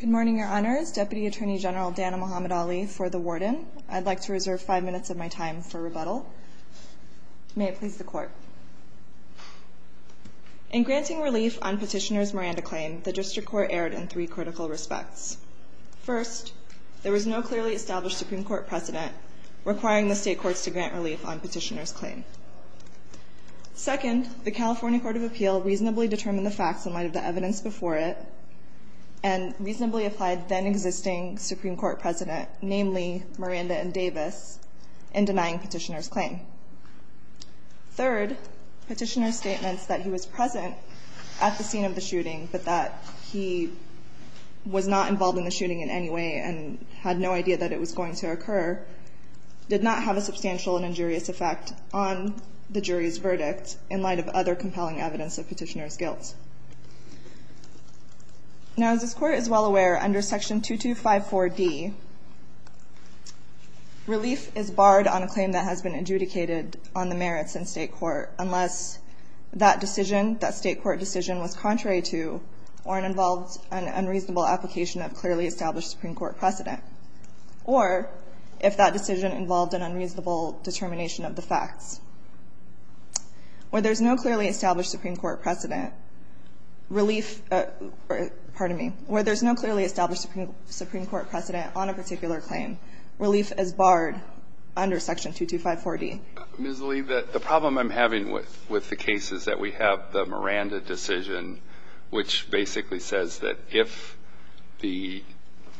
Good morning, your honors. Deputy Attorney General Dana Muhammad Ali for the warden. I'd like to reserve five minutes of my time for rebuttal. May it please the court. In granting relief on Petitioner's Miranda claim, the district court erred in three critical respects. First, there was no clearly established Supreme Court precedent requiring the state courts to grant relief on Petitioner's claim. Second, the California Court of Appeal reasonably determined the facts in light of the evidence before it and reasonably applied then existing Supreme Court precedent, namely Miranda and Davis, in denying Petitioner's claim. Third, Petitioner's statements that he was present at the scene of the shooting but that he was not involved in the shooting in any way and had no idea that it was going to occur did not have a substantial and injurious effect on the jury's verdict in light of other compelling evidence of Petitioner's guilt. Now, as this court is well aware, under Section 2254D, relief is barred on a claim that has been adjudicated on the merits in state court unless that decision, that state court decision, was contrary to or it involved an unreasonable application of clearly established Supreme Court precedent, or if that decision involved an unreasonable determination of the facts. Where there's no clearly established Supreme Court precedent, relief or, pardon me, where there's no clearly established Supreme Court precedent on a particular claim, relief is barred under Section 2254D. Ms. Lee, the problem I'm having with the case is that we have the Miranda decision, which basically says that if the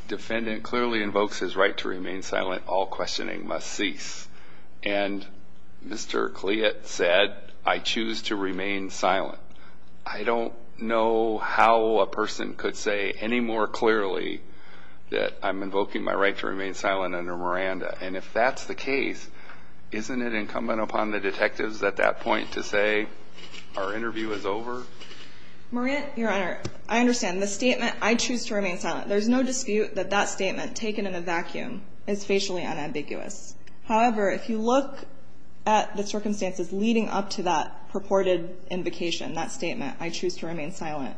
defendant clearly invokes his right to remain silent, all questioning must cease. And Mr. Cleat said, I choose to remain silent. I don't know how a person could say any more clearly that I'm invoking my right to remain silent under Miranda. And if that's the case, isn't it incumbent upon the detectives at that point to say our interview is over? Miranda, Your Honor, I understand. The statement, I choose to remain silent, there's no dispute that that statement taken in a vacuum is facially unambiguous. However, if you look at the circumstances leading up to that purported invocation, that statement, I choose to remain silent,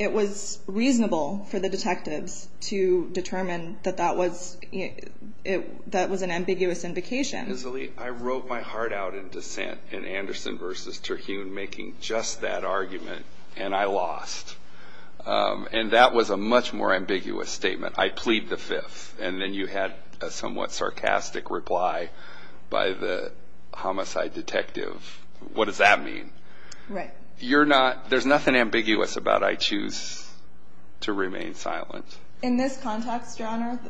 it was reasonable for the detectives to determine that that was an ambiguous invocation. Ms. Lee, I wrote my heart out in dissent in Anderson v. Terhune making just that argument, and I lost. And that was a much more ambiguous statement. I plead the fifth. And then you had a somewhat sarcastic reply by the homicide detective. What does that mean? Right. You're not, there's nothing ambiguous about I choose to remain silent. In this context, Your Honor,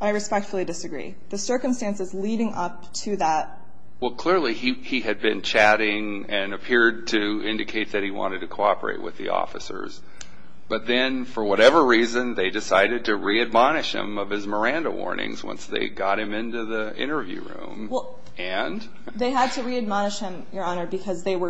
I respectfully disagree. The circumstances leading up to that. Well, clearly he had been chatting and appeared to indicate that he wanted to cooperate with the officers. But then, for whatever reason, they decided to re-admonish him of his Miranda warnings once they got him into the interview room. And? They had to re-admonish him, Your Honor, because they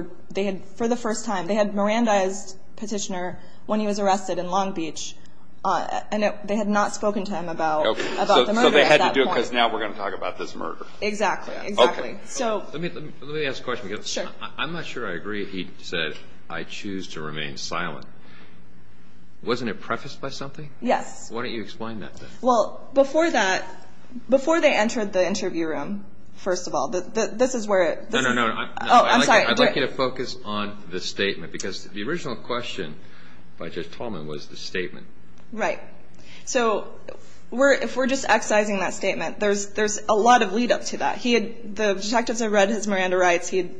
had, for the first time, they had Mirandized Petitioner when he was arrested in Long Beach, and they had not spoken to him about the murder at that point. Okay. So they had to do it because now we're going to talk about this murder. Exactly. Okay. Let me ask a question. Sure. I'm not sure I agree he said, I choose to remain silent. Wasn't it prefaced by something? Yes. Why don't you explain that then? Well, before that, before they entered the interview room, first of all, this is where it. No, no, no. Oh, I'm sorry. I'd like you to focus on the statement because the original question by Judge Tolman was the statement. Right. So if we're just excising that statement, there's a lot of lead-up to that. The detectives had read his Miranda rights. He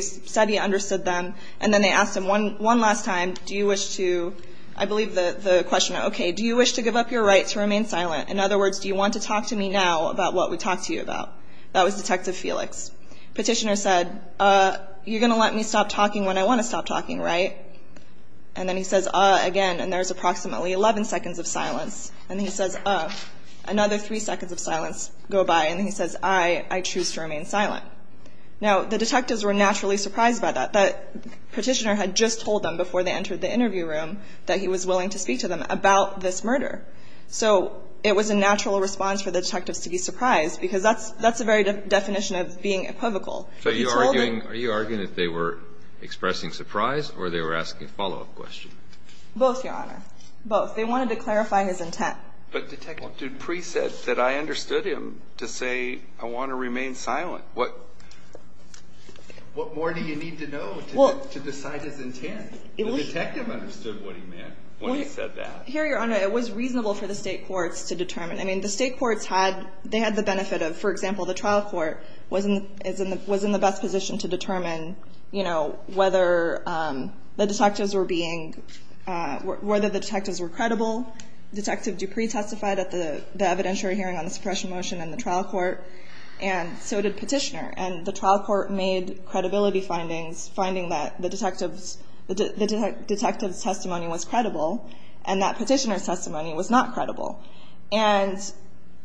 said he understood them. And then they asked him one last time, do you wish to, I believe the question, okay, do you wish to give up your right to remain silent? In other words, do you want to talk to me now about what we talked to you about? That was Detective Felix. Petitioner said, you're going to let me stop talking when I want to stop talking, right? And then he says, again, and there's approximately 11 seconds of silence. And he says, another three seconds of silence go by. And he says, I choose to remain silent. Now, the detectives were naturally surprised by that. Petitioner had just told them before they entered the interview room that he was willing to speak to them about this murder. So it was a natural response for the detectives to be surprised because that's the very definition of being equivocal. Are you arguing that they were expressing surprise or they were asking a follow-up question? Both, Your Honor. Both. They wanted to clarify his intent. But Detective Dupree said that I understood him to say I want to remain silent. What more do you need to know to decide his intent? The detective understood what he meant when he said that. Here, Your Honor, it was reasonable for the state courts to determine. I mean, the state courts had the benefit of, for example, the trial court was in the best position to determine, you know, whether the detectives were being, whether the detectives were credible. Detective Dupree testified at the evidentiary hearing on the suppression motion in the trial court. And so did Petitioner. And the trial court made credibility findings, finding that the detective's testimony was credible and that Petitioner's testimony was not credible. And,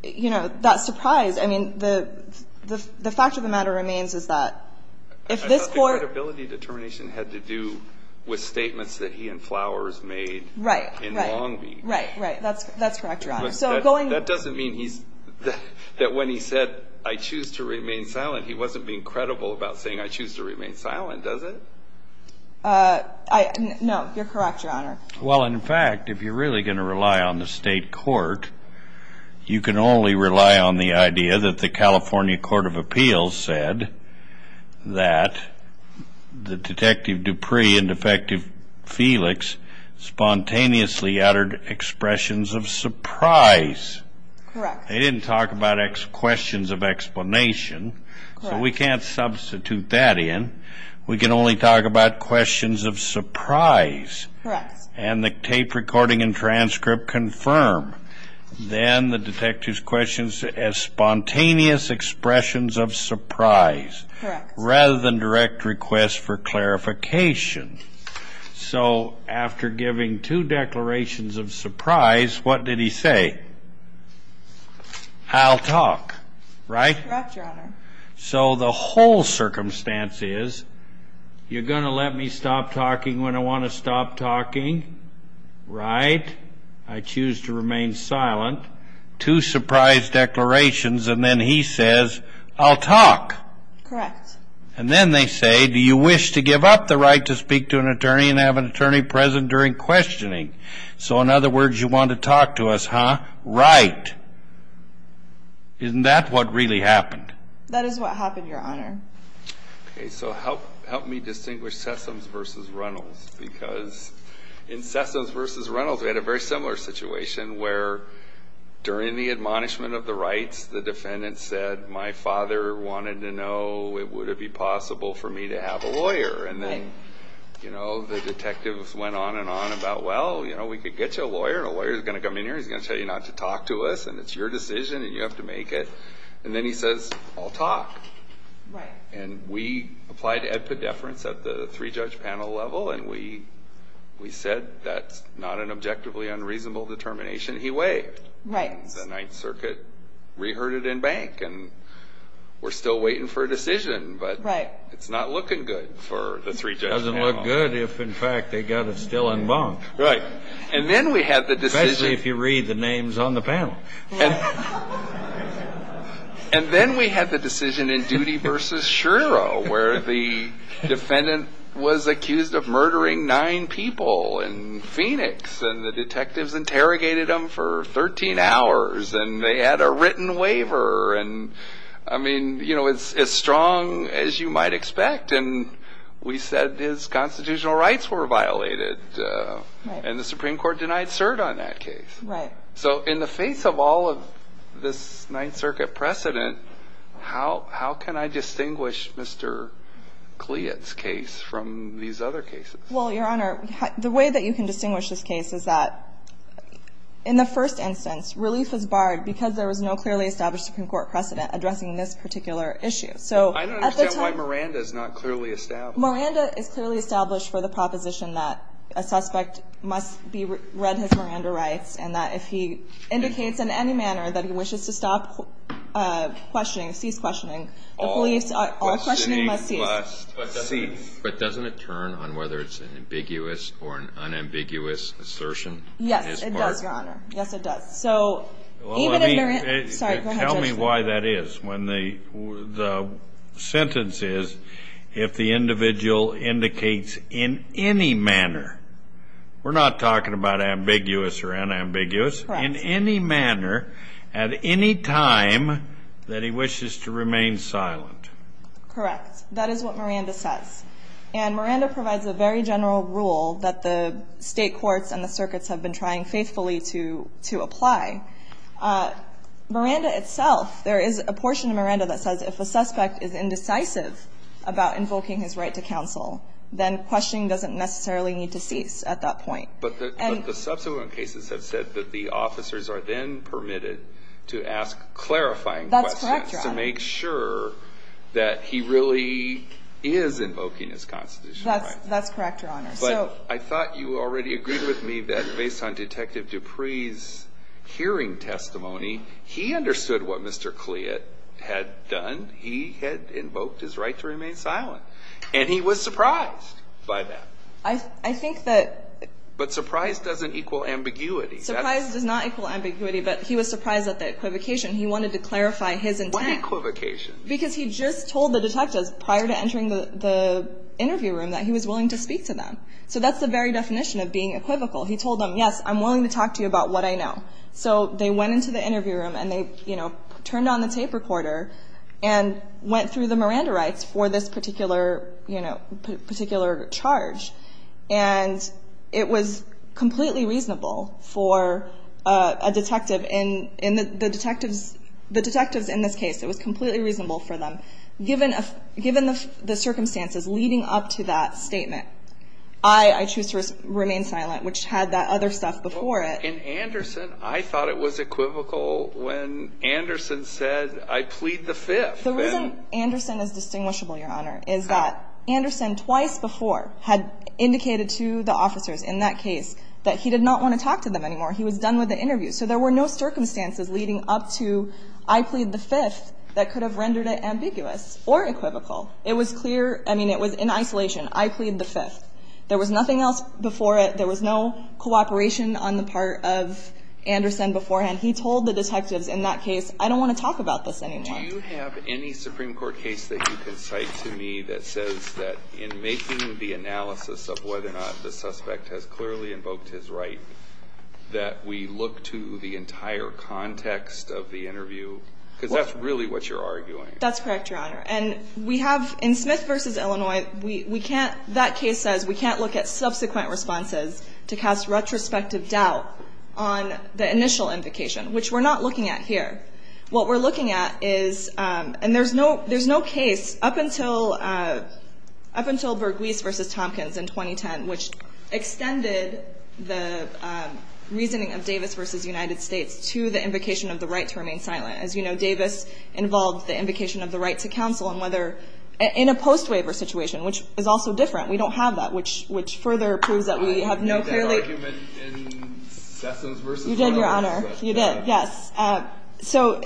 you know, that surprise, I mean, the fact of the matter remains is that if this court ---- I thought the credibility determination had to do with statements that he and Flowers made in Long Beach. Right, right. That's correct, Your Honor. That doesn't mean that when he said, I choose to remain silent, he wasn't being credible about saying, I choose to remain silent, does it? No, you're correct, Your Honor. Well, in fact, if you're really going to rely on the state court, you can only rely on the idea that the California Court of Appeals said that the detective Dupree and Defective Felix spontaneously uttered expressions of surprise. Correct. They didn't talk about questions of explanation. Correct. So we can't substitute that in. We can only talk about questions of surprise. Correct. And the tape recording and transcript confirm. Then the detective's questions as spontaneous expressions of surprise. Correct. Rather than direct requests for clarification. So after giving two declarations of surprise, what did he say? I'll talk. Right? Correct, Your Honor. So the whole circumstance is, you're going to let me stop talking when I want to stop talking, right? I choose to remain silent. Two surprise declarations, and then he says, I'll talk. Correct. And then they say, do you wish to give up the right to speak to an attorney and have an attorney present during questioning? So in other words, you want to talk to us, huh? Right. Isn't that what really happened? That is what happened, Your Honor. Okay, so help me distinguish Sessoms v. Reynolds, because in Sessoms v. Reynolds we had a very similar situation where during the admonishment of the rights, the defendant said, my father wanted to know, would it be possible for me to have a lawyer? And then the detectives went on and on about, well, we could get you a lawyer, and a lawyer's going to come in here, he's going to tell you not to talk to us, and it's your decision and you have to make it. And then he says, I'll talk. Right. And we applied to ed pediferance at the three-judge panel level, and we said that's not an objectively unreasonable determination. He waived. Right. The Ninth Circuit reheard it in bank, and we're still waiting for a decision. Right. But it's not looking good for the three-judge panel. It doesn't look good if, in fact, they've got it still en banc. Right. And then we had the decision. Especially if you read the names on the panel. Right. And then we had the decision in Duty v. Shiro, where the defendant was accused of murdering nine people in Phoenix, and the detectives interrogated him for 13 hours, and they had a written waiver. And, I mean, you know, it's as strong as you might expect. And we said his constitutional rights were violated. Right. And the Supreme Court denied cert on that case. Right. So in the face of all of this Ninth Circuit precedent, how can I distinguish Mr. Kliat's case from these other cases? Well, Your Honor, the way that you can distinguish this case is that, in the first instance, relief was barred because there was no clearly established Supreme Court precedent addressing this particular issue. I don't understand why Miranda is not clearly established. Miranda is clearly established for the proposition that a suspect must read his Miranda rights, and that if he indicates in any manner that he wishes to stop questioning, cease questioning, the police, all questioning must cease. But doesn't it turn on whether it's an ambiguous or an unambiguous assertion? Yes, it does, Your Honor. Yes, it does. So even if Miranda ---- Tell me why that is. The sentence is, if the individual indicates in any manner, we're not talking about ambiguous or unambiguous, in any manner at any time that he wishes to remain silent. Correct. That is what Miranda says. And Miranda provides a very general rule that the state courts and the circuits have been trying faithfully to apply. Miranda itself, there is a portion of Miranda that says, if a suspect is indecisive about invoking his right to counsel, then questioning doesn't necessarily need to cease at that point. But the subsequent cases have said that the officers are then permitted to ask clarifying questions. That's correct, Your Honor. And that's to make sure that he really is invoking his constitutional right. That's correct, Your Honor. But I thought you already agreed with me that based on Detective Dupree's hearing testimony, he understood what Mr. Cleat had done. He had invoked his right to remain silent. And he was surprised by that. I think that ---- But surprise doesn't equal ambiguity. Surprise does not equal ambiguity. But he was surprised at the equivocation. He wanted to clarify his intent. What equivocation? Because he just told the detectives prior to entering the interview room that he was willing to speak to them. So that's the very definition of being equivocal. He told them, yes, I'm willing to talk to you about what I know. So they went into the interview room and they, you know, turned on the tape recorder and went through the Miranda rights for this particular, you know, particular charge. And it was completely reasonable for a detective in the detectives in this case. It was completely reasonable for them. Given the circumstances leading up to that statement, I choose to remain silent, which had that other stuff before it. In Anderson, I thought it was equivocal when Anderson said, I plead the Fifth. The reason Anderson is distinguishable, Your Honor, is that Anderson twice before had indicated to the officers in that case that he did not want to talk to them anymore. He was done with the interview. So there were no circumstances leading up to, I plead the Fifth, that could have rendered it ambiguous or equivocal. It was clear. I mean, it was in isolation. I plead the Fifth. There was nothing else before it. There was no cooperation on the part of Anderson beforehand. He told the detectives in that case, I don't want to talk about this anymore. Do you have any Supreme Court case that you can cite to me that says that in making the analysis of whether or not the suspect has clearly invoked his right, that we look to the entire context of the interview? Because that's really what you're arguing. That's correct, Your Honor. And we have, in Smith v. Illinois, we can't, that case says we can't look at subsequent responses to cast retrospective doubt on the initial invocation, which we're not looking at here. What we're looking at is, and there's no case up until Bergwies v. Tompkins in 2010, which extended the reasoning of Davis v. United States to the invocation of the right to remain silent. As you know, Davis involved the invocation of the right to counsel in a post-waiver situation, which is also different. We don't have that, which further proves that we have no clearly. I made that argument in Sessoms v. Iowans. You did, Your Honor. You did, yes. So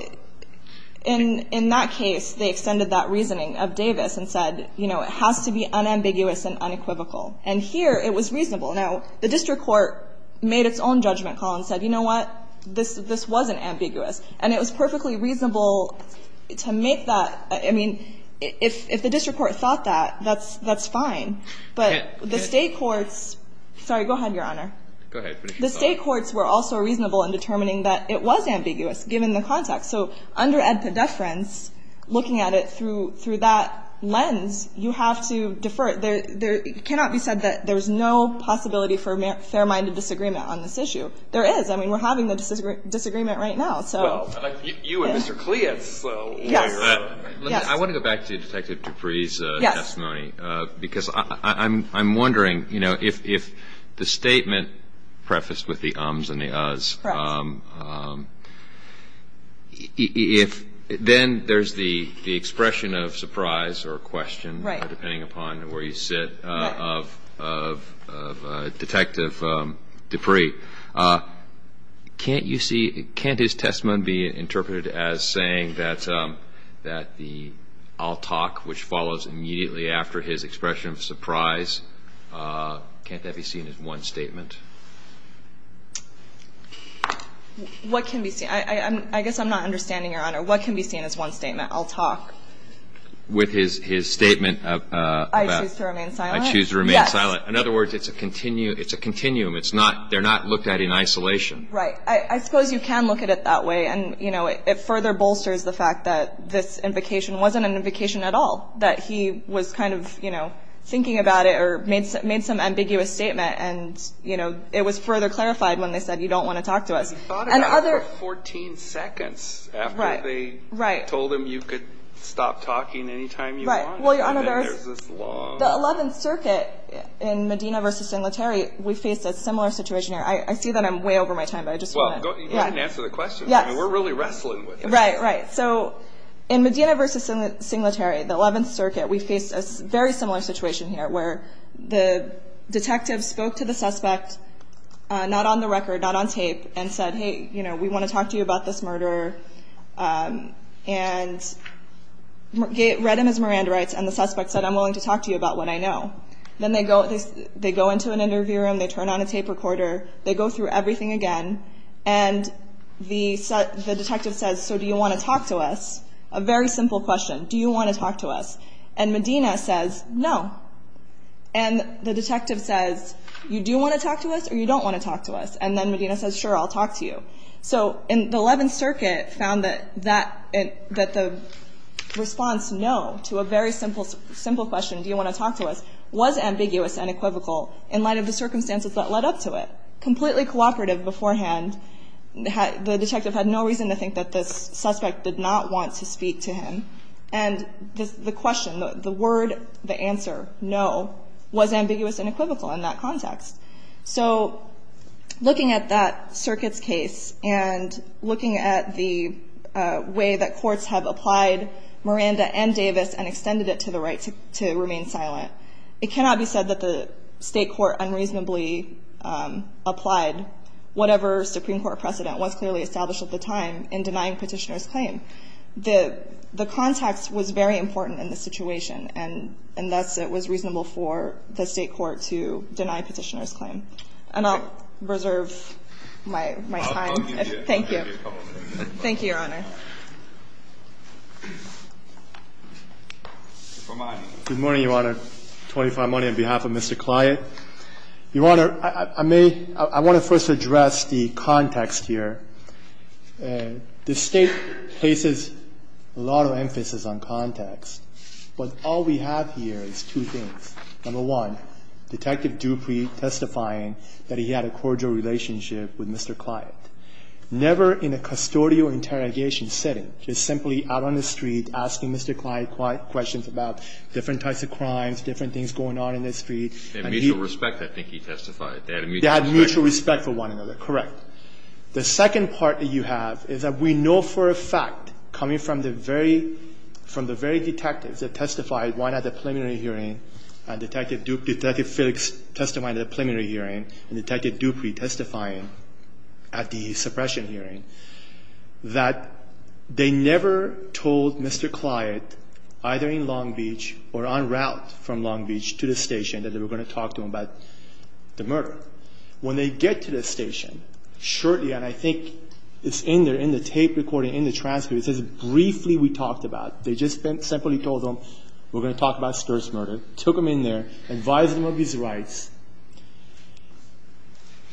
in that case, they extended that reasoning of Davis and said, you know, it has to be unambiguous and unequivocal. And here it was reasonable. Now, the district court made its own judgment call and said, you know what, this wasn't ambiguous. And it was perfectly reasonable to make that, I mean, if the district court thought that, that's fine. But the state courts, sorry, go ahead, Your Honor. Go ahead. The state courts were also reasonable in determining that it was ambiguous, given the context. So under ad podeference, looking at it through that lens, you have to defer. There cannot be said that there's no possibility for fair-minded disagreement on this issue. There is. I mean, we're having the disagreement right now, so. Well, you and Mr. Cleance were. Yes. I want to go back to Detective Dupree's testimony. Yes. Because I'm wondering, you know, if the statement prefaced with the ums and the uhs. Correct. If then there's the expression of surprise or question. Right. Depending upon where you sit. Right. Of Detective Dupree. Can't you see, can't his testimony be interpreted as saying that the I'll talk, which follows immediately after his expression of surprise? Can't that be seen as one statement? What can be seen? I guess I'm not understanding, Your Honor. What can be seen as one statement? I'll talk. With his statement about. I choose to remain silent. I choose to remain silent. Yes. In other words, it's a continuum. It's not, they're not looked at in isolation. Right. I suppose you can look at it that way. And, you know, it further bolsters the fact that this invocation wasn't an invocation at all. That he was kind of, you know, thinking about it or made some ambiguous statement. And, you know, it was further clarified when they said you don't want to talk to us. He thought about it for 14 seconds. Right. After they told him you could stop talking any time you wanted. Right. And then there's this long. The 11th Circuit in Medina v. Singletary, we faced a similar situation. I see that I'm way over my time, but I just want to. You didn't answer the question. Yes. I mean, we're really wrestling with this. Right, right. So in Medina v. Singletary, the 11th Circuit, we faced a very similar situation here. Where the detective spoke to the suspect, not on the record, not on tape. And said, hey, you know, we want to talk to you about this murder. And read him his Miranda rights. And the suspect said, I'm willing to talk to you about what I know. Then they go into an interview room. They turn on a tape recorder. They go through everything again. And the detective says, so do you want to talk to us? A very simple question. Do you want to talk to us? And Medina says, no. And the detective says, you do want to talk to us or you don't want to talk to us? And then Medina says, sure, I'll talk to you. So the 11th Circuit found that the response no to a very simple question, do you want to talk to us, was ambiguous and equivocal in light of the circumstances that led up to it. Completely cooperative beforehand, the detective had no reason to think that this suspect did not want to speak to him. And the question, the word, the answer, no, was ambiguous and equivocal in that context. So looking at that circuit's case and looking at the way that courts have applied Miranda and Davis and extended it to the right to remain silent, it cannot be said that the state court unreasonably applied whatever Supreme Court precedent was clearly established at the time in denying Petitioner's claim. The context was very important in this situation, and thus it was reasonable for the state court to deny Petitioner's claim. And I'll reserve my time. Thank you. Thank you, Your Honor. Good morning, Your Honor. 25 money on behalf of Mr. Client. Your Honor, I may – I want to first address the context here. The State places a lot of emphasis on context, but all we have here is two things. Number one, Detective Dupree testifying that he had a cordial relationship with Mr. Client. Never in a custodial interrogation setting. Just simply out on the street asking Mr. Client questions about different types of crimes, different things going on in the street. They had mutual respect, I think he testified. They had mutual respect for one another. Correct. The second part that you have is that we know for a fact, coming from the very – from the very detectives that testified, one at the preliminary hearing, and Detective Felix testifying at the preliminary hearing, and Detective Dupree testifying at the suppression hearing, that they never told Mr. Client, either in Long Beach or en route from Long Beach, to the station that they were going to talk to him about the murder. When they get to the station, shortly, and I think it's in there in the tape recording, in the transcript, it says, They just simply told him, we're going to talk about spurs murder. Took him in there, advised him of his rights.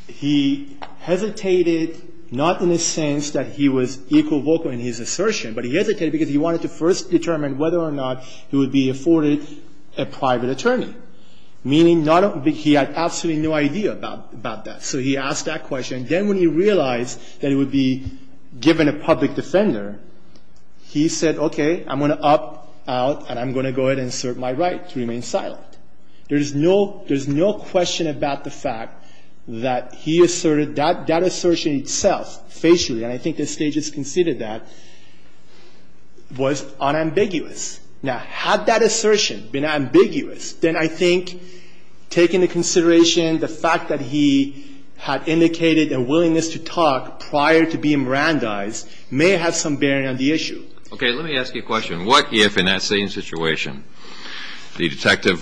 He hesitated, not in the sense that he was equal vocal in his assertion, but he hesitated because he wanted to first determine whether or not he would be afforded a private attorney. Meaning he had absolutely no idea about that. So he asked that question. And then when he realized that he would be given a public defender, he said, Okay, I'm going to up, out, and I'm going to go ahead and assert my right to remain silent. There's no question about the fact that he asserted – that assertion itself, facially, and I think the State just conceded that, was unambiguous. Now, had that assertion been ambiguous, then I think taking into consideration the fact that he had indicated a willingness to talk prior to being Mirandized may have some bearing on the issue. Okay, let me ask you a question. What if, in that same situation, the detective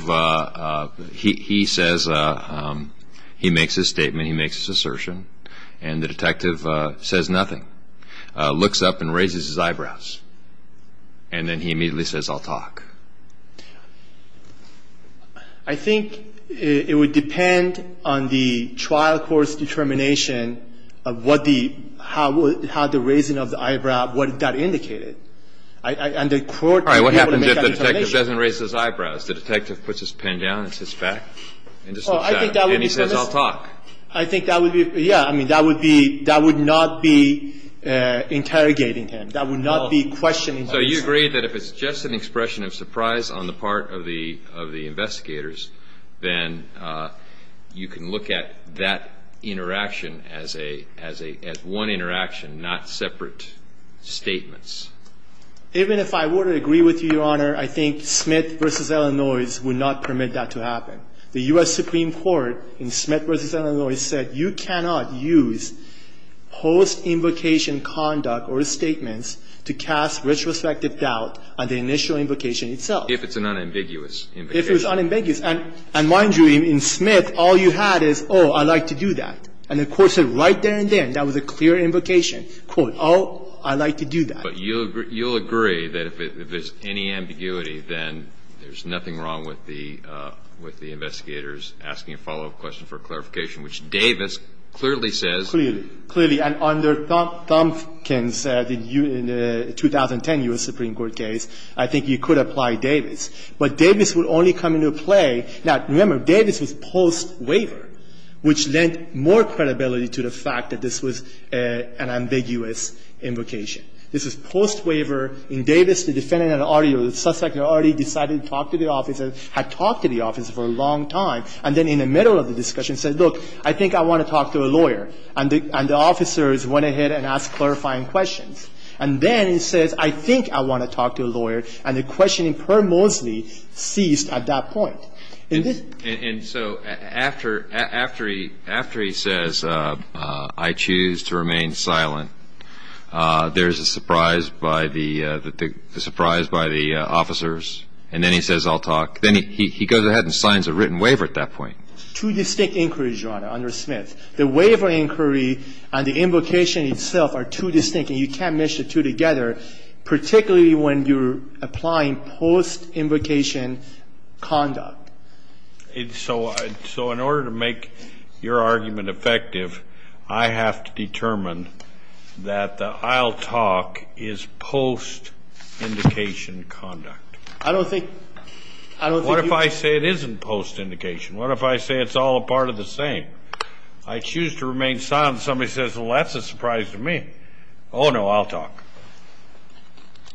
– he says – he makes his statement, he makes his assertion, and the detective says nothing, looks up and raises his eyebrows, and then he immediately says, I'll talk. I think it would depend on the trial court's determination of what the – how the raising of the eyebrow, what that indicated. And the court would be able to make that determination. All right. What happens if the detective doesn't raise his eyebrows? The detective puts his pen down and sits back and just looks down. Oh, I think that would be permissive. And he says, I'll talk. I think that would be – yeah. I mean, that would be – that would not be interrogating him. That would not be questioning him. So you agree that if it's just an expression of surprise on the part of the investigators, then you can look at that interaction as a – as one interaction, not separate statements. Even if I were to agree with you, Your Honor, I think Smith v. Illinois would not permit that to happen. The U.S. Supreme Court in Smith v. Illinois said you cannot use post-invocation conduct or statements to cast retrospective doubt on the initial invocation itself. If it's an unambiguous invocation. If it's unambiguous. And mind you, in Smith, all you had is, oh, I'd like to do that. And the court said right there and then that was a clear invocation. Quote, oh, I'd like to do that. But you'll agree that if it's any ambiguity, then there's nothing wrong with the investigators asking a follow-up question for clarification, which Davis clearly says. Clearly. Clearly. And under Thompkins, the 2010 U.S. Supreme Court case, I think you could apply Davis. But Davis would only come into play. Now, remember, Davis was post-waiver, which lent more credibility to the fact that this was an ambiguous invocation. This was post-waiver. In Davis, the defendant had already or the suspect had already decided to talk to the officer, had talked to the officer for a long time, and then in the middle of the hearing, the officer went ahead and asked clarifying questions. And then he says, I think I want to talk to a lawyer. And the questioning premosly ceased at that point. And this ---- And so after he says, I choose to remain silent, there's a surprise by the officers, and then he says, I'll talk. Then he goes ahead and signs a written waiver at that point. Two distinct inquiries, Your Honor, under Smith. The waiver inquiry and the invocation itself are two distinct. And you can't mix the two together, particularly when you're applying post-invocation conduct. So in order to make your argument effective, I have to determine that the I'll talk is post-indication conduct. I don't think ---- What if I say it isn't post-indication? What if I say it's all a part of the same? I choose to remain silent and somebody says, well, that's a surprise to me. Oh, no, I'll talk.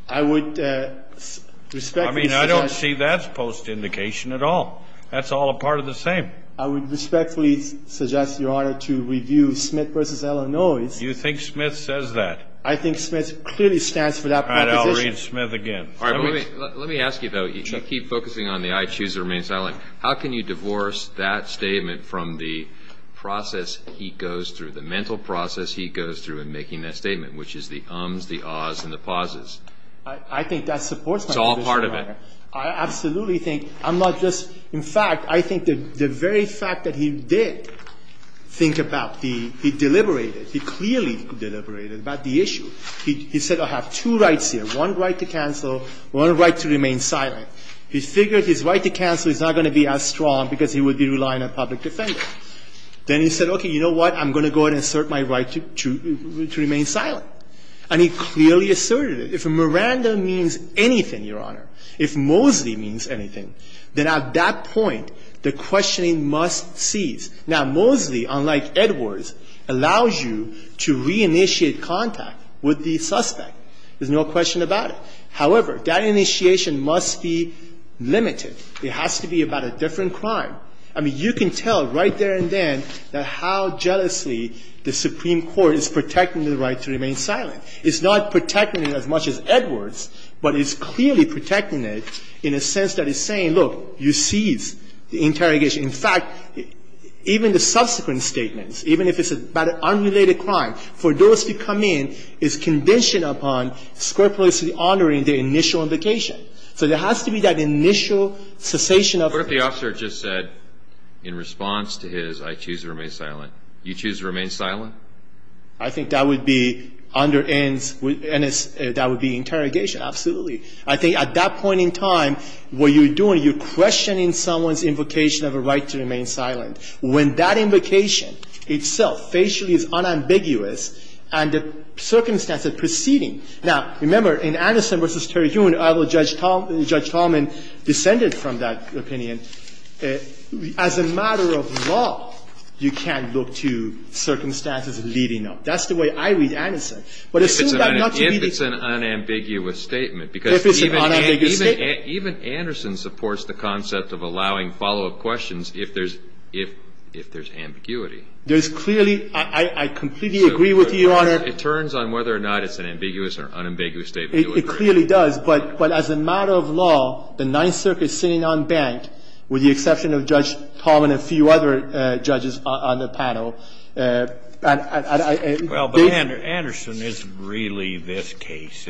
I would respectfully suggest ---- I mean, I don't see that as post-indication at all. That's all a part of the same. I would respectfully suggest, Your Honor, to review Smith v. Illinois. You think Smith says that? I think Smith clearly stands for that proposition. All right. I'll read Smith again. Let me ask you, though. You keep focusing on the I choose to remain silent. How can you divorce that statement from the process he goes through, the mental process he goes through in making that statement, which is the ums, the ahs, and the pauses? I think that supports my position, Your Honor. It's all part of it. I absolutely think ---- I'm not just ---- in fact, I think the very fact that he did think about the ---- he deliberated, he clearly deliberated about the issue. He said I have two rights here, one right to cancel, one right to remain silent. He figured his right to cancel is not going to be as strong because he would be relying on a public defender. Then he said, okay, you know what, I'm going to go ahead and assert my right to remain silent. And he clearly asserted it. If Miranda means anything, Your Honor, if Mosley means anything, then at that point, the questioning must cease. Now, Mosley, unlike Edwards, allows you to reinitiate contact with the suspect. There's no question about it. However, that initiation must be limited. It has to be about a different crime. I mean, you can tell right there and then that how jealously the Supreme Court is protecting the right to remain silent. It's not protecting it as much as Edwards, but it's clearly protecting it in a sense that it's saying, look, you cease the interrogation. In fact, even the subsequent statements, even if it's about an unrelated crime, for those to come in is conditioned upon scrupulously honoring the initial invocation. So there has to be that initial cessation of it. What if the officer just said in response to his, I choose to remain silent, you choose to remain silent? I think that would be interrogation. Absolutely. I think at that point in time, what you're doing, you're questioning someone's invocation of a right to remain silent. When that invocation itself facially is unambiguous and the circumstances preceding. Now, remember, in Anderson v. Terry Hewitt, I will judge Tom, Judge Tolman descended from that opinion. As a matter of law, you can't look to circumstances leading up. That's the way I read Anderson. But assume that not to be the case. If it's an unambiguous statement. If it's an unambiguous statement. Even Anderson supports the concept of allowing follow-up questions if there's ambiguity. There's clearly, I completely agree with you, Your Honor. It turns on whether or not it's an ambiguous or unambiguous statement. It clearly does. But as a matter of law, the Ninth Circuit sitting unbanked, with the exception of Judge Tolman and a few other judges on the panel. Well, but Anderson, it's really this case.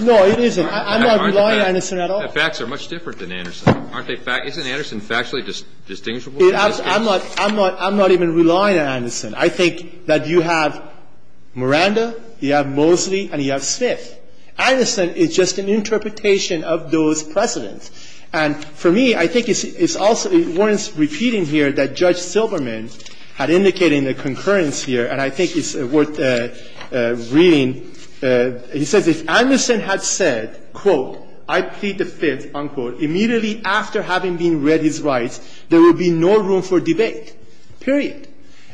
No, it isn't. I'm not relying on Anderson at all. The facts are much different than Anderson. Isn't Anderson factually distinguishable in this case? I'm not even relying on Anderson. I think that you have Miranda, you have Mosley, and you have Smith. Anderson is just an interpretation of those precedents. And for me, I think it's also worth repeating here that Judge Silberman had indicated in the concurrence here, and I think it's worth reading. He says, If Anderson had said, quote, I plead the Fifth, unquote, immediately after having been read his rights, there would be no room for debate, period.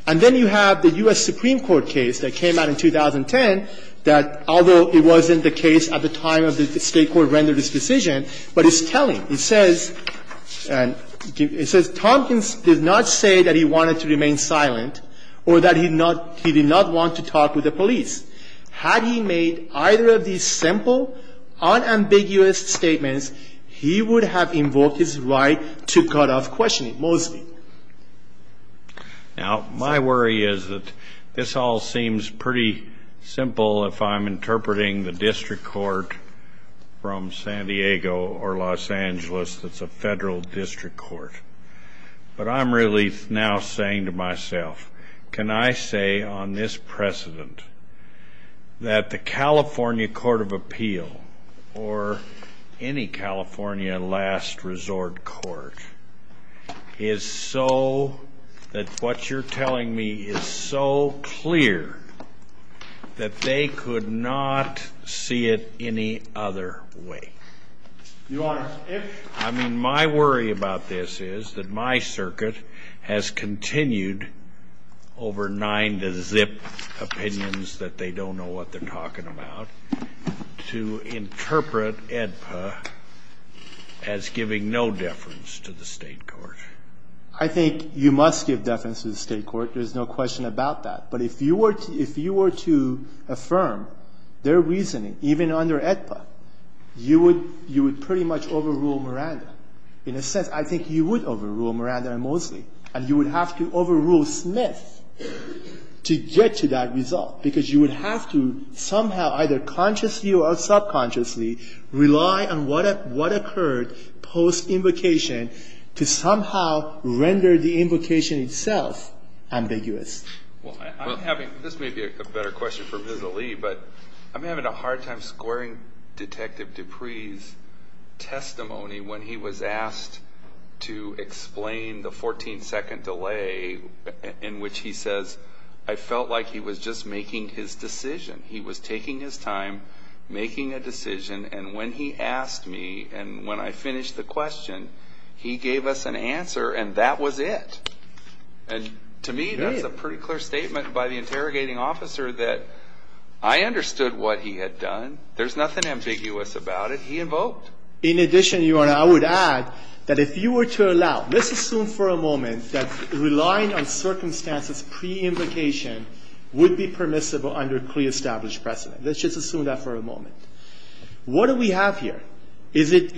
And then you have the U.S. Supreme Court case that came out in 2010 that, although it wasn't the case at the time of the State court rendered its decision, but it's telling. It says, and it says, Tompkins did not say that he wanted to remain silent or that he did not want to talk with the police. Had he made either of these simple, unambiguous statements, he would have invoked his right to cut off questioning, Mosley. Now, my worry is that this all seems pretty simple if I'm interpreting the district court from San Diego or Los Angeles that's a federal district court. But I'm really now saying to myself, can I say on this precedent that the California Court of Appeal or any California last resort court is so that what you're telling me is so clear that they could not see it any other way? Your Honor, if I mean, my worry about this is that my circuit has continued over nine to zip opinions that they don't know what they're talking about to interpret AEDPA as giving no deference to the State court. I think you must give deference to the State court. There's no question about that. But if you were to affirm their reasoning, even under AEDPA, you would pretty much overrule Miranda. In a sense, I think you would overrule Miranda and Mosley. And you would have to overrule Smith to get to that result, because you would have to somehow, either consciously or subconsciously, rely on what occurred post-invocation to somehow render the invocation itself ambiguous. Well, I'm having, this may be a better question for Ms. Ali, but I'm having a testimony when he was asked to explain the 14-second delay in which he says, I felt like he was just making his decision. He was taking his time, making a decision. And when he asked me, and when I finished the question, he gave us an answer, and that was it. And to me, that's a pretty clear statement by the interrogating officer that I understood what he had done. There's nothing ambiguous about it. He invoked. In addition, Your Honor, I would add that if you were to allow, let's assume for a moment that relying on circumstances pre-invocation would be permissible under a pre-established precedent. Let's just assume that for a moment. What do we have here? Is it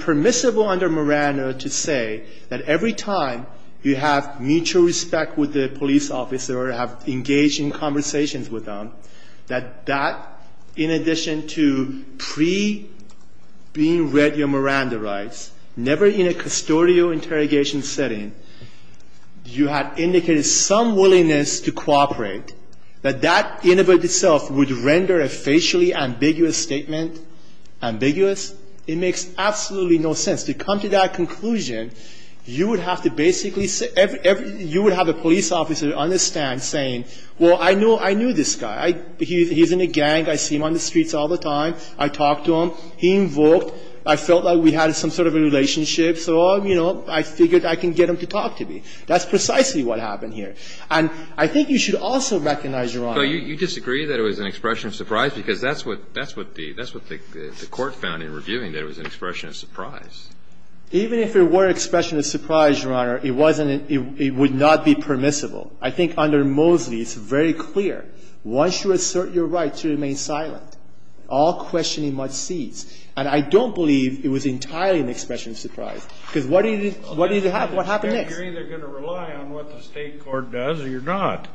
permissible under Miranda to say that every time you have mutual respect with the police officer or have engaging conversations with them, that that, in addition to pre-being read your Miranda rights, never in a custodial interrogation setting, you had indicated some willingness to cooperate, that that, in and of itself, would render a facially ambiguous statement ambiguous? It makes absolutely no sense. To come to that conclusion, you would have to basically say, you would have a police officer understand saying, well, I knew this guy. He's in a gang. I see him on the streets all the time. I talk to him. He invoked. I felt like we had some sort of a relationship. So, you know, I figured I can get him to talk to me. That's precisely what happened here. And I think you should also recognize, Your Honor. So you disagree that it was an expression of surprise? Because that's what the Court found in reviewing, that it was an expression of surprise. Even if it were an expression of surprise, Your Honor, it wasn't an – it would not be permissible. I think under Mosley, it's very clear. Once you assert your right to remain silent, all questioning must cease. And I don't believe it was entirely an expression of surprise. Because what did it – what did it have? What happened next? You're either going to rely on what the State court does or you're not.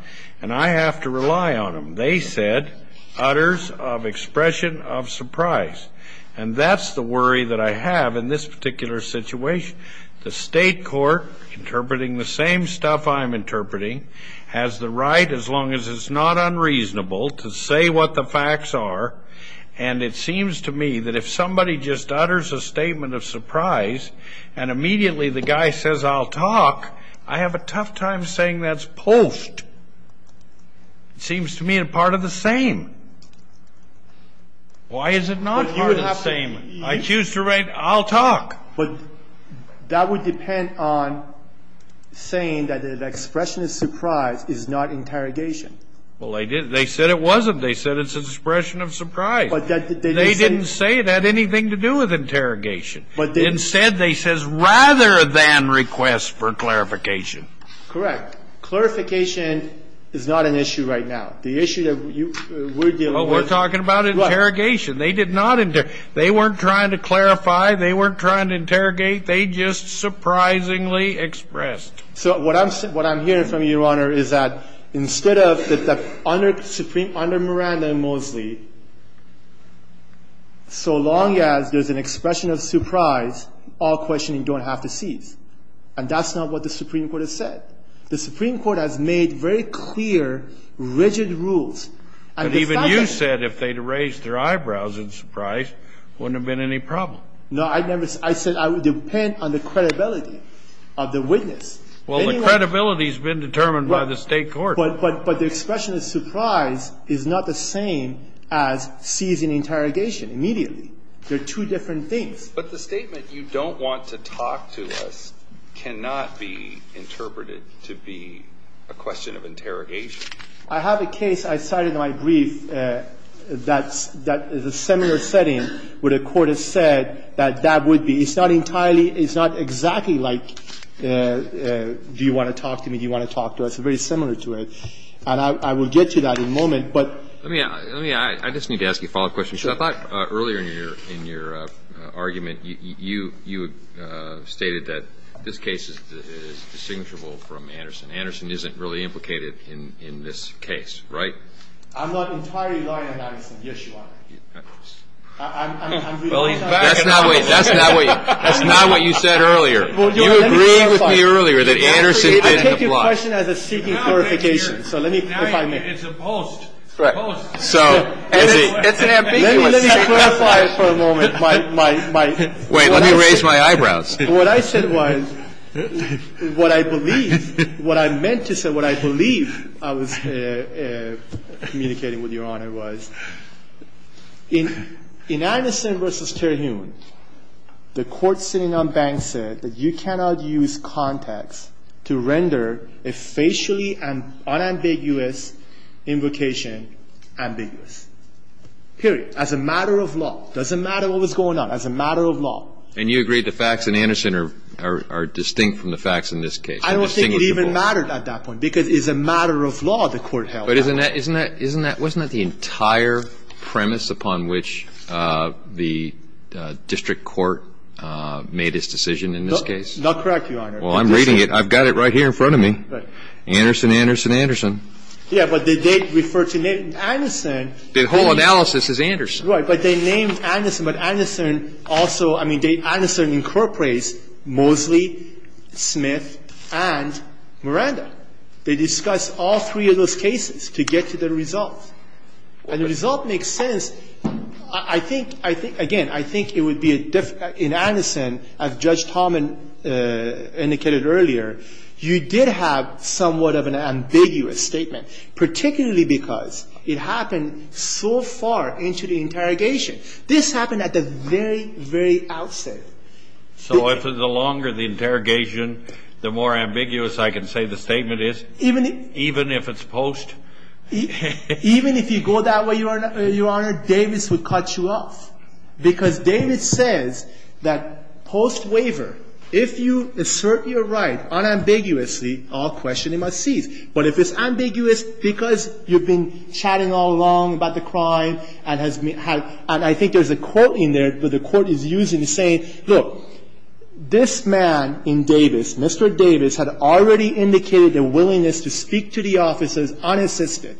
And I have to rely on them. They said, utters of expression of surprise. And that's the worry that I have in this particular situation. The State court, interpreting the same stuff I'm interpreting, has the right, as long as it's not unreasonable, to say what the facts are. And it seems to me that if somebody just utters a statement of surprise, and immediately the guy says, I'll talk, I have a tough time saying that's post. It seems to me a part of the same. Why is it not part of the same? I choose to remain – I'll talk. But that would depend on saying that the expression of surprise is not interrogation. Well, they didn't. They said it wasn't. They said it's an expression of surprise. They didn't say it had anything to do with interrogation. Instead, they says rather than request for clarification. Correct. Clarification is not an issue right now. The issue that we're dealing with – Oh, we're talking about interrogation. They did not – they weren't trying to clarify. They weren't trying to interrogate. They just surprisingly expressed. So what I'm – what I'm hearing from you, Your Honor, is that instead of – under Miranda and Mosley, so long as there's an expression of surprise, all questioning don't have to cease. And that's not what the Supreme Court has said. The Supreme Court has made very clear, rigid rules. And if that – But even you said if they'd raised their eyebrows in surprise, wouldn't have been any problem. No, I never – I said I would depend on the credibility of the witness. Well, the credibility has been determined by the State court. But the expression of surprise is not the same as ceasing interrogation immediately. They're two different things. But the statement, you don't want to talk to us, cannot be interpreted to be a question of interrogation. I have a case I cited in my brief that's – that is a similar setting where the Court has said that that would be – it's not entirely – it's not exactly like do you want to talk to me, do you want to talk to us. It's very similar to it. And I will get to that in a moment, but – Let me – let me – I just need to ask you a follow-up question. Sure. I thought earlier in your – in your argument, you – you stated that this case is distinguishable from Anderson. Anderson isn't really implicated in – in this case, right? I'm not entirely lying on Anderson. Yes, you are. I'm – I'm – I'm – That's not what – that's not what – that's not what you said earlier. You agreed with me earlier that Anderson didn't apply. I take your question as a seeking clarification. So let me – if I may. Now you're – it's a post. Right. Post. So – Let me – let me clarify it for a moment. My – my – my – Wait. Let me raise my eyebrows. What I said was, what I believe – what I meant to say, what I believe I was communicating with Your Honor was, in – in Anderson v. Terhune, the court sitting on Banks said that you cannot use context to render a facially unambiguous invocation ambiguous, period, as a matter of law. It doesn't matter what was going on, as a matter of law. And you agreed the facts in Anderson are – are distinct from the facts in this case. I don't think it even mattered at that point, because it's a matter of law, the court held. But isn't that – isn't that – wasn't that the entire premise upon which the district court made its decision in this case? Not correct, Your Honor. Well, I'm reading it. I've got it right here in front of me. Anderson, Anderson, Anderson. Yeah, but they did refer to name – Anderson. The whole analysis is Anderson. Right, but they named Anderson. But Anderson also – I mean, they – Anderson incorporates Mosley, Smith, and Miranda. They discussed all three of those cases to get to the result. And the result makes sense. I think – I think – again, I think it would be a – in Anderson, as Judge Tomlin indicated earlier, you did have somewhat of an ambiguous statement, particularly because it happened so far into the interrogation. This happened at the very, very outset. So the longer the interrogation, the more ambiguous I can say the statement is? Even if – Even if it's post? Even if you go that way, Your Honor, Davis would cut you off. Because Davis says that post waiver, if you assert your right unambiguously, all questioning must cease. But if it's ambiguous because you've been chatting all along about the crime and has – and I think there's a quote in there that the Court is using, saying, look, this man in Davis, Mr. Davis, had already indicated a willingness to speak to the officers unassisted.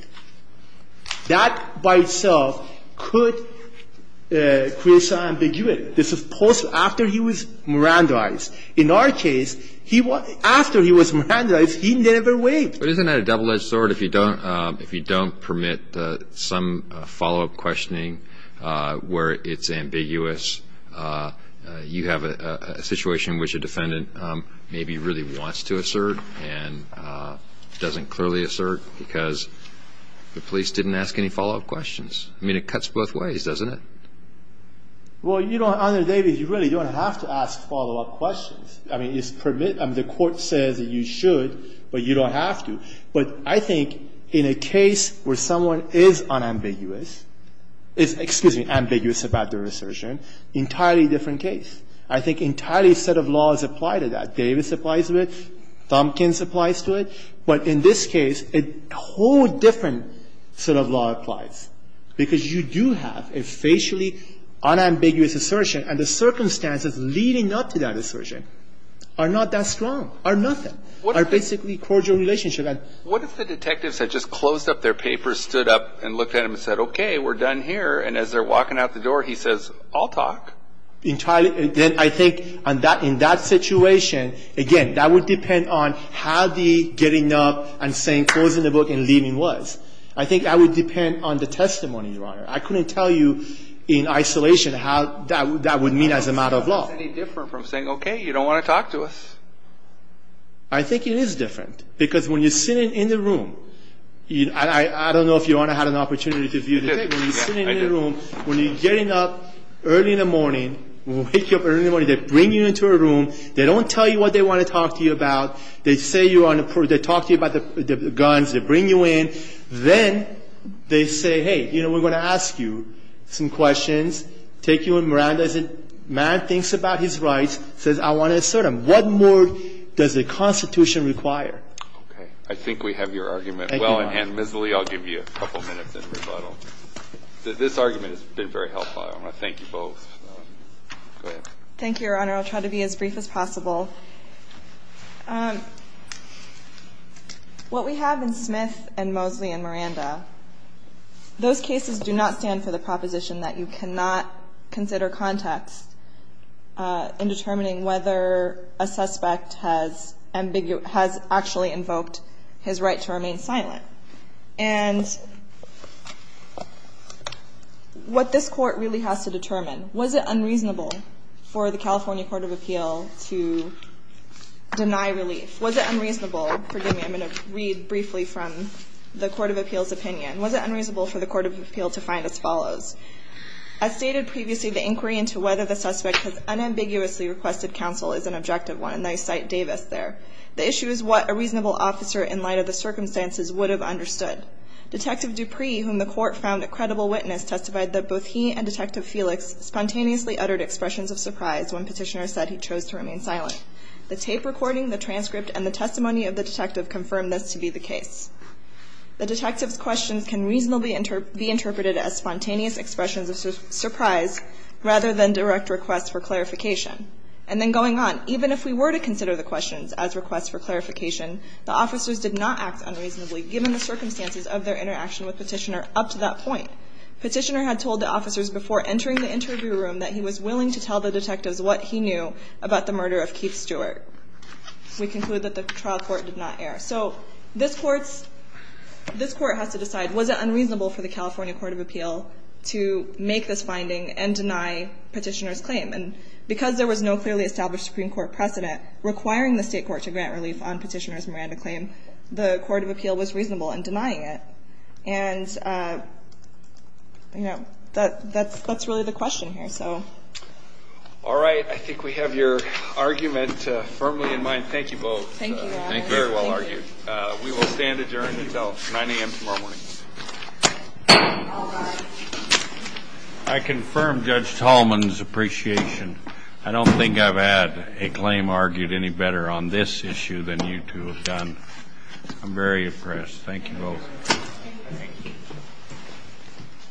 That by itself could create some ambiguity. This is post – after he was Mirandaized. In our case, he – after he was Mirandaized, he never waived. But isn't that a double-edged sword? If you don't – if you don't permit some follow-up questioning where it's ambiguous, you have a situation in which a defendant maybe really wants to assert and doesn't clearly assert because the police didn't ask any follow-up questions. I mean, it cuts both ways, doesn't it? Well, Your Honor, Davis, you really don't have to ask follow-up questions. I mean, it's – the Court says that you should, but you don't have to. But I think in a case where someone is unambiguous – is, excuse me, ambiguous about their assertion, entirely different case. I think entirely a set of laws apply to that. Davis applies to it. Thompkins applies to it. But in this case, a whole different set of law applies, because you do have a facially unambiguous assertion. And the circumstances leading up to that assertion are not that strong, are nothing, are basically cordial relationship. What if the detectives had just closed up their papers, stood up and looked at them and said, okay, we're done here. And as they're walking out the door, he says, I'll talk. Entirely – then I think in that situation, again, that would depend on how the getting up and saying closing the book and leaving was. I think that would depend on the testimony, Your Honor. I couldn't tell you in isolation how that would mean as a matter of law. I don't think it's any different from saying, okay, you don't want to talk to us. I think it is different. Because when you're sitting in the room – and I don't know if you, Your Honor, had an opportunity to view the tape. I did. I did. When you're sitting in the room, when you're getting up early in the morning, when we wake you up early in the morning, they bring you into a room. They don't tell you what they want to talk to you about. They say you're on the – they talk to you about the guns. They bring you in. Then they say, hey, you know, we're going to ask you some questions, take you around. As a man thinks about his rights, says, I want to assert them. What more does the Constitution require? Okay. I think we have your argument well and handmissly. I'll give you a couple minutes in rebuttal. This argument has been very helpful. I want to thank you both. Go ahead. Thank you, Your Honor. I'll try to be as brief as possible. What we have in Smith and Mosley and Miranda, those cases do not stand for the proposition that you cannot consider context in determining whether a suspect has actually invoked his right to remain silent. And what this Court really has to determine, was it unreasonable for the California Court of Appeal to deny relief? Was it unreasonable? Forgive me. I'm going to read briefly from the Court of Appeal's opinion. Was it unreasonable for the Court of Appeal to find as follows? As stated previously, the inquiry into whether the suspect has unambiguously requested counsel is an objective one. And I cite Davis there. The issue is what a reasonable officer in light of the circumstances would have understood. Detective Dupree, whom the Court found a credible witness, testified that both he and Detective Felix spontaneously uttered expressions of surprise when Petitioner said he chose to remain silent. The tape recording, the transcript, and the testimony of the detective confirmed this to be the case. The detective's questions can reasonably be interpreted as spontaneous expressions of surprise rather than direct requests for clarification. And then going on, even if we were to consider the questions as requests for clarification, the officers did not act unreasonably, given the circumstances of their interaction with Petitioner up to that point. Petitioner had told the officers before entering the interview room that he was going to tell the detectives what he knew about the murder of Keith Stewart. We conclude that the trial court did not err. So this Court has to decide, was it unreasonable for the California Court of Appeal to make this finding and deny Petitioner's claim? And because there was no clearly established Supreme Court precedent requiring the State Court to grant relief on Petitioner's Miranda claim, the Court of Appeal was reasonable in denying it. And, you know, that's really the question here. All right. I think we have your argument firmly in mind. Thank you both. Thank you. Very well argued. We will stand adjourned until 9 a.m. tomorrow morning. I confirm Judge Tallman's appreciation. I don't think I've had a claim argued any better on this issue than you two have done. I'm very impressed. Thank you both. Thank you.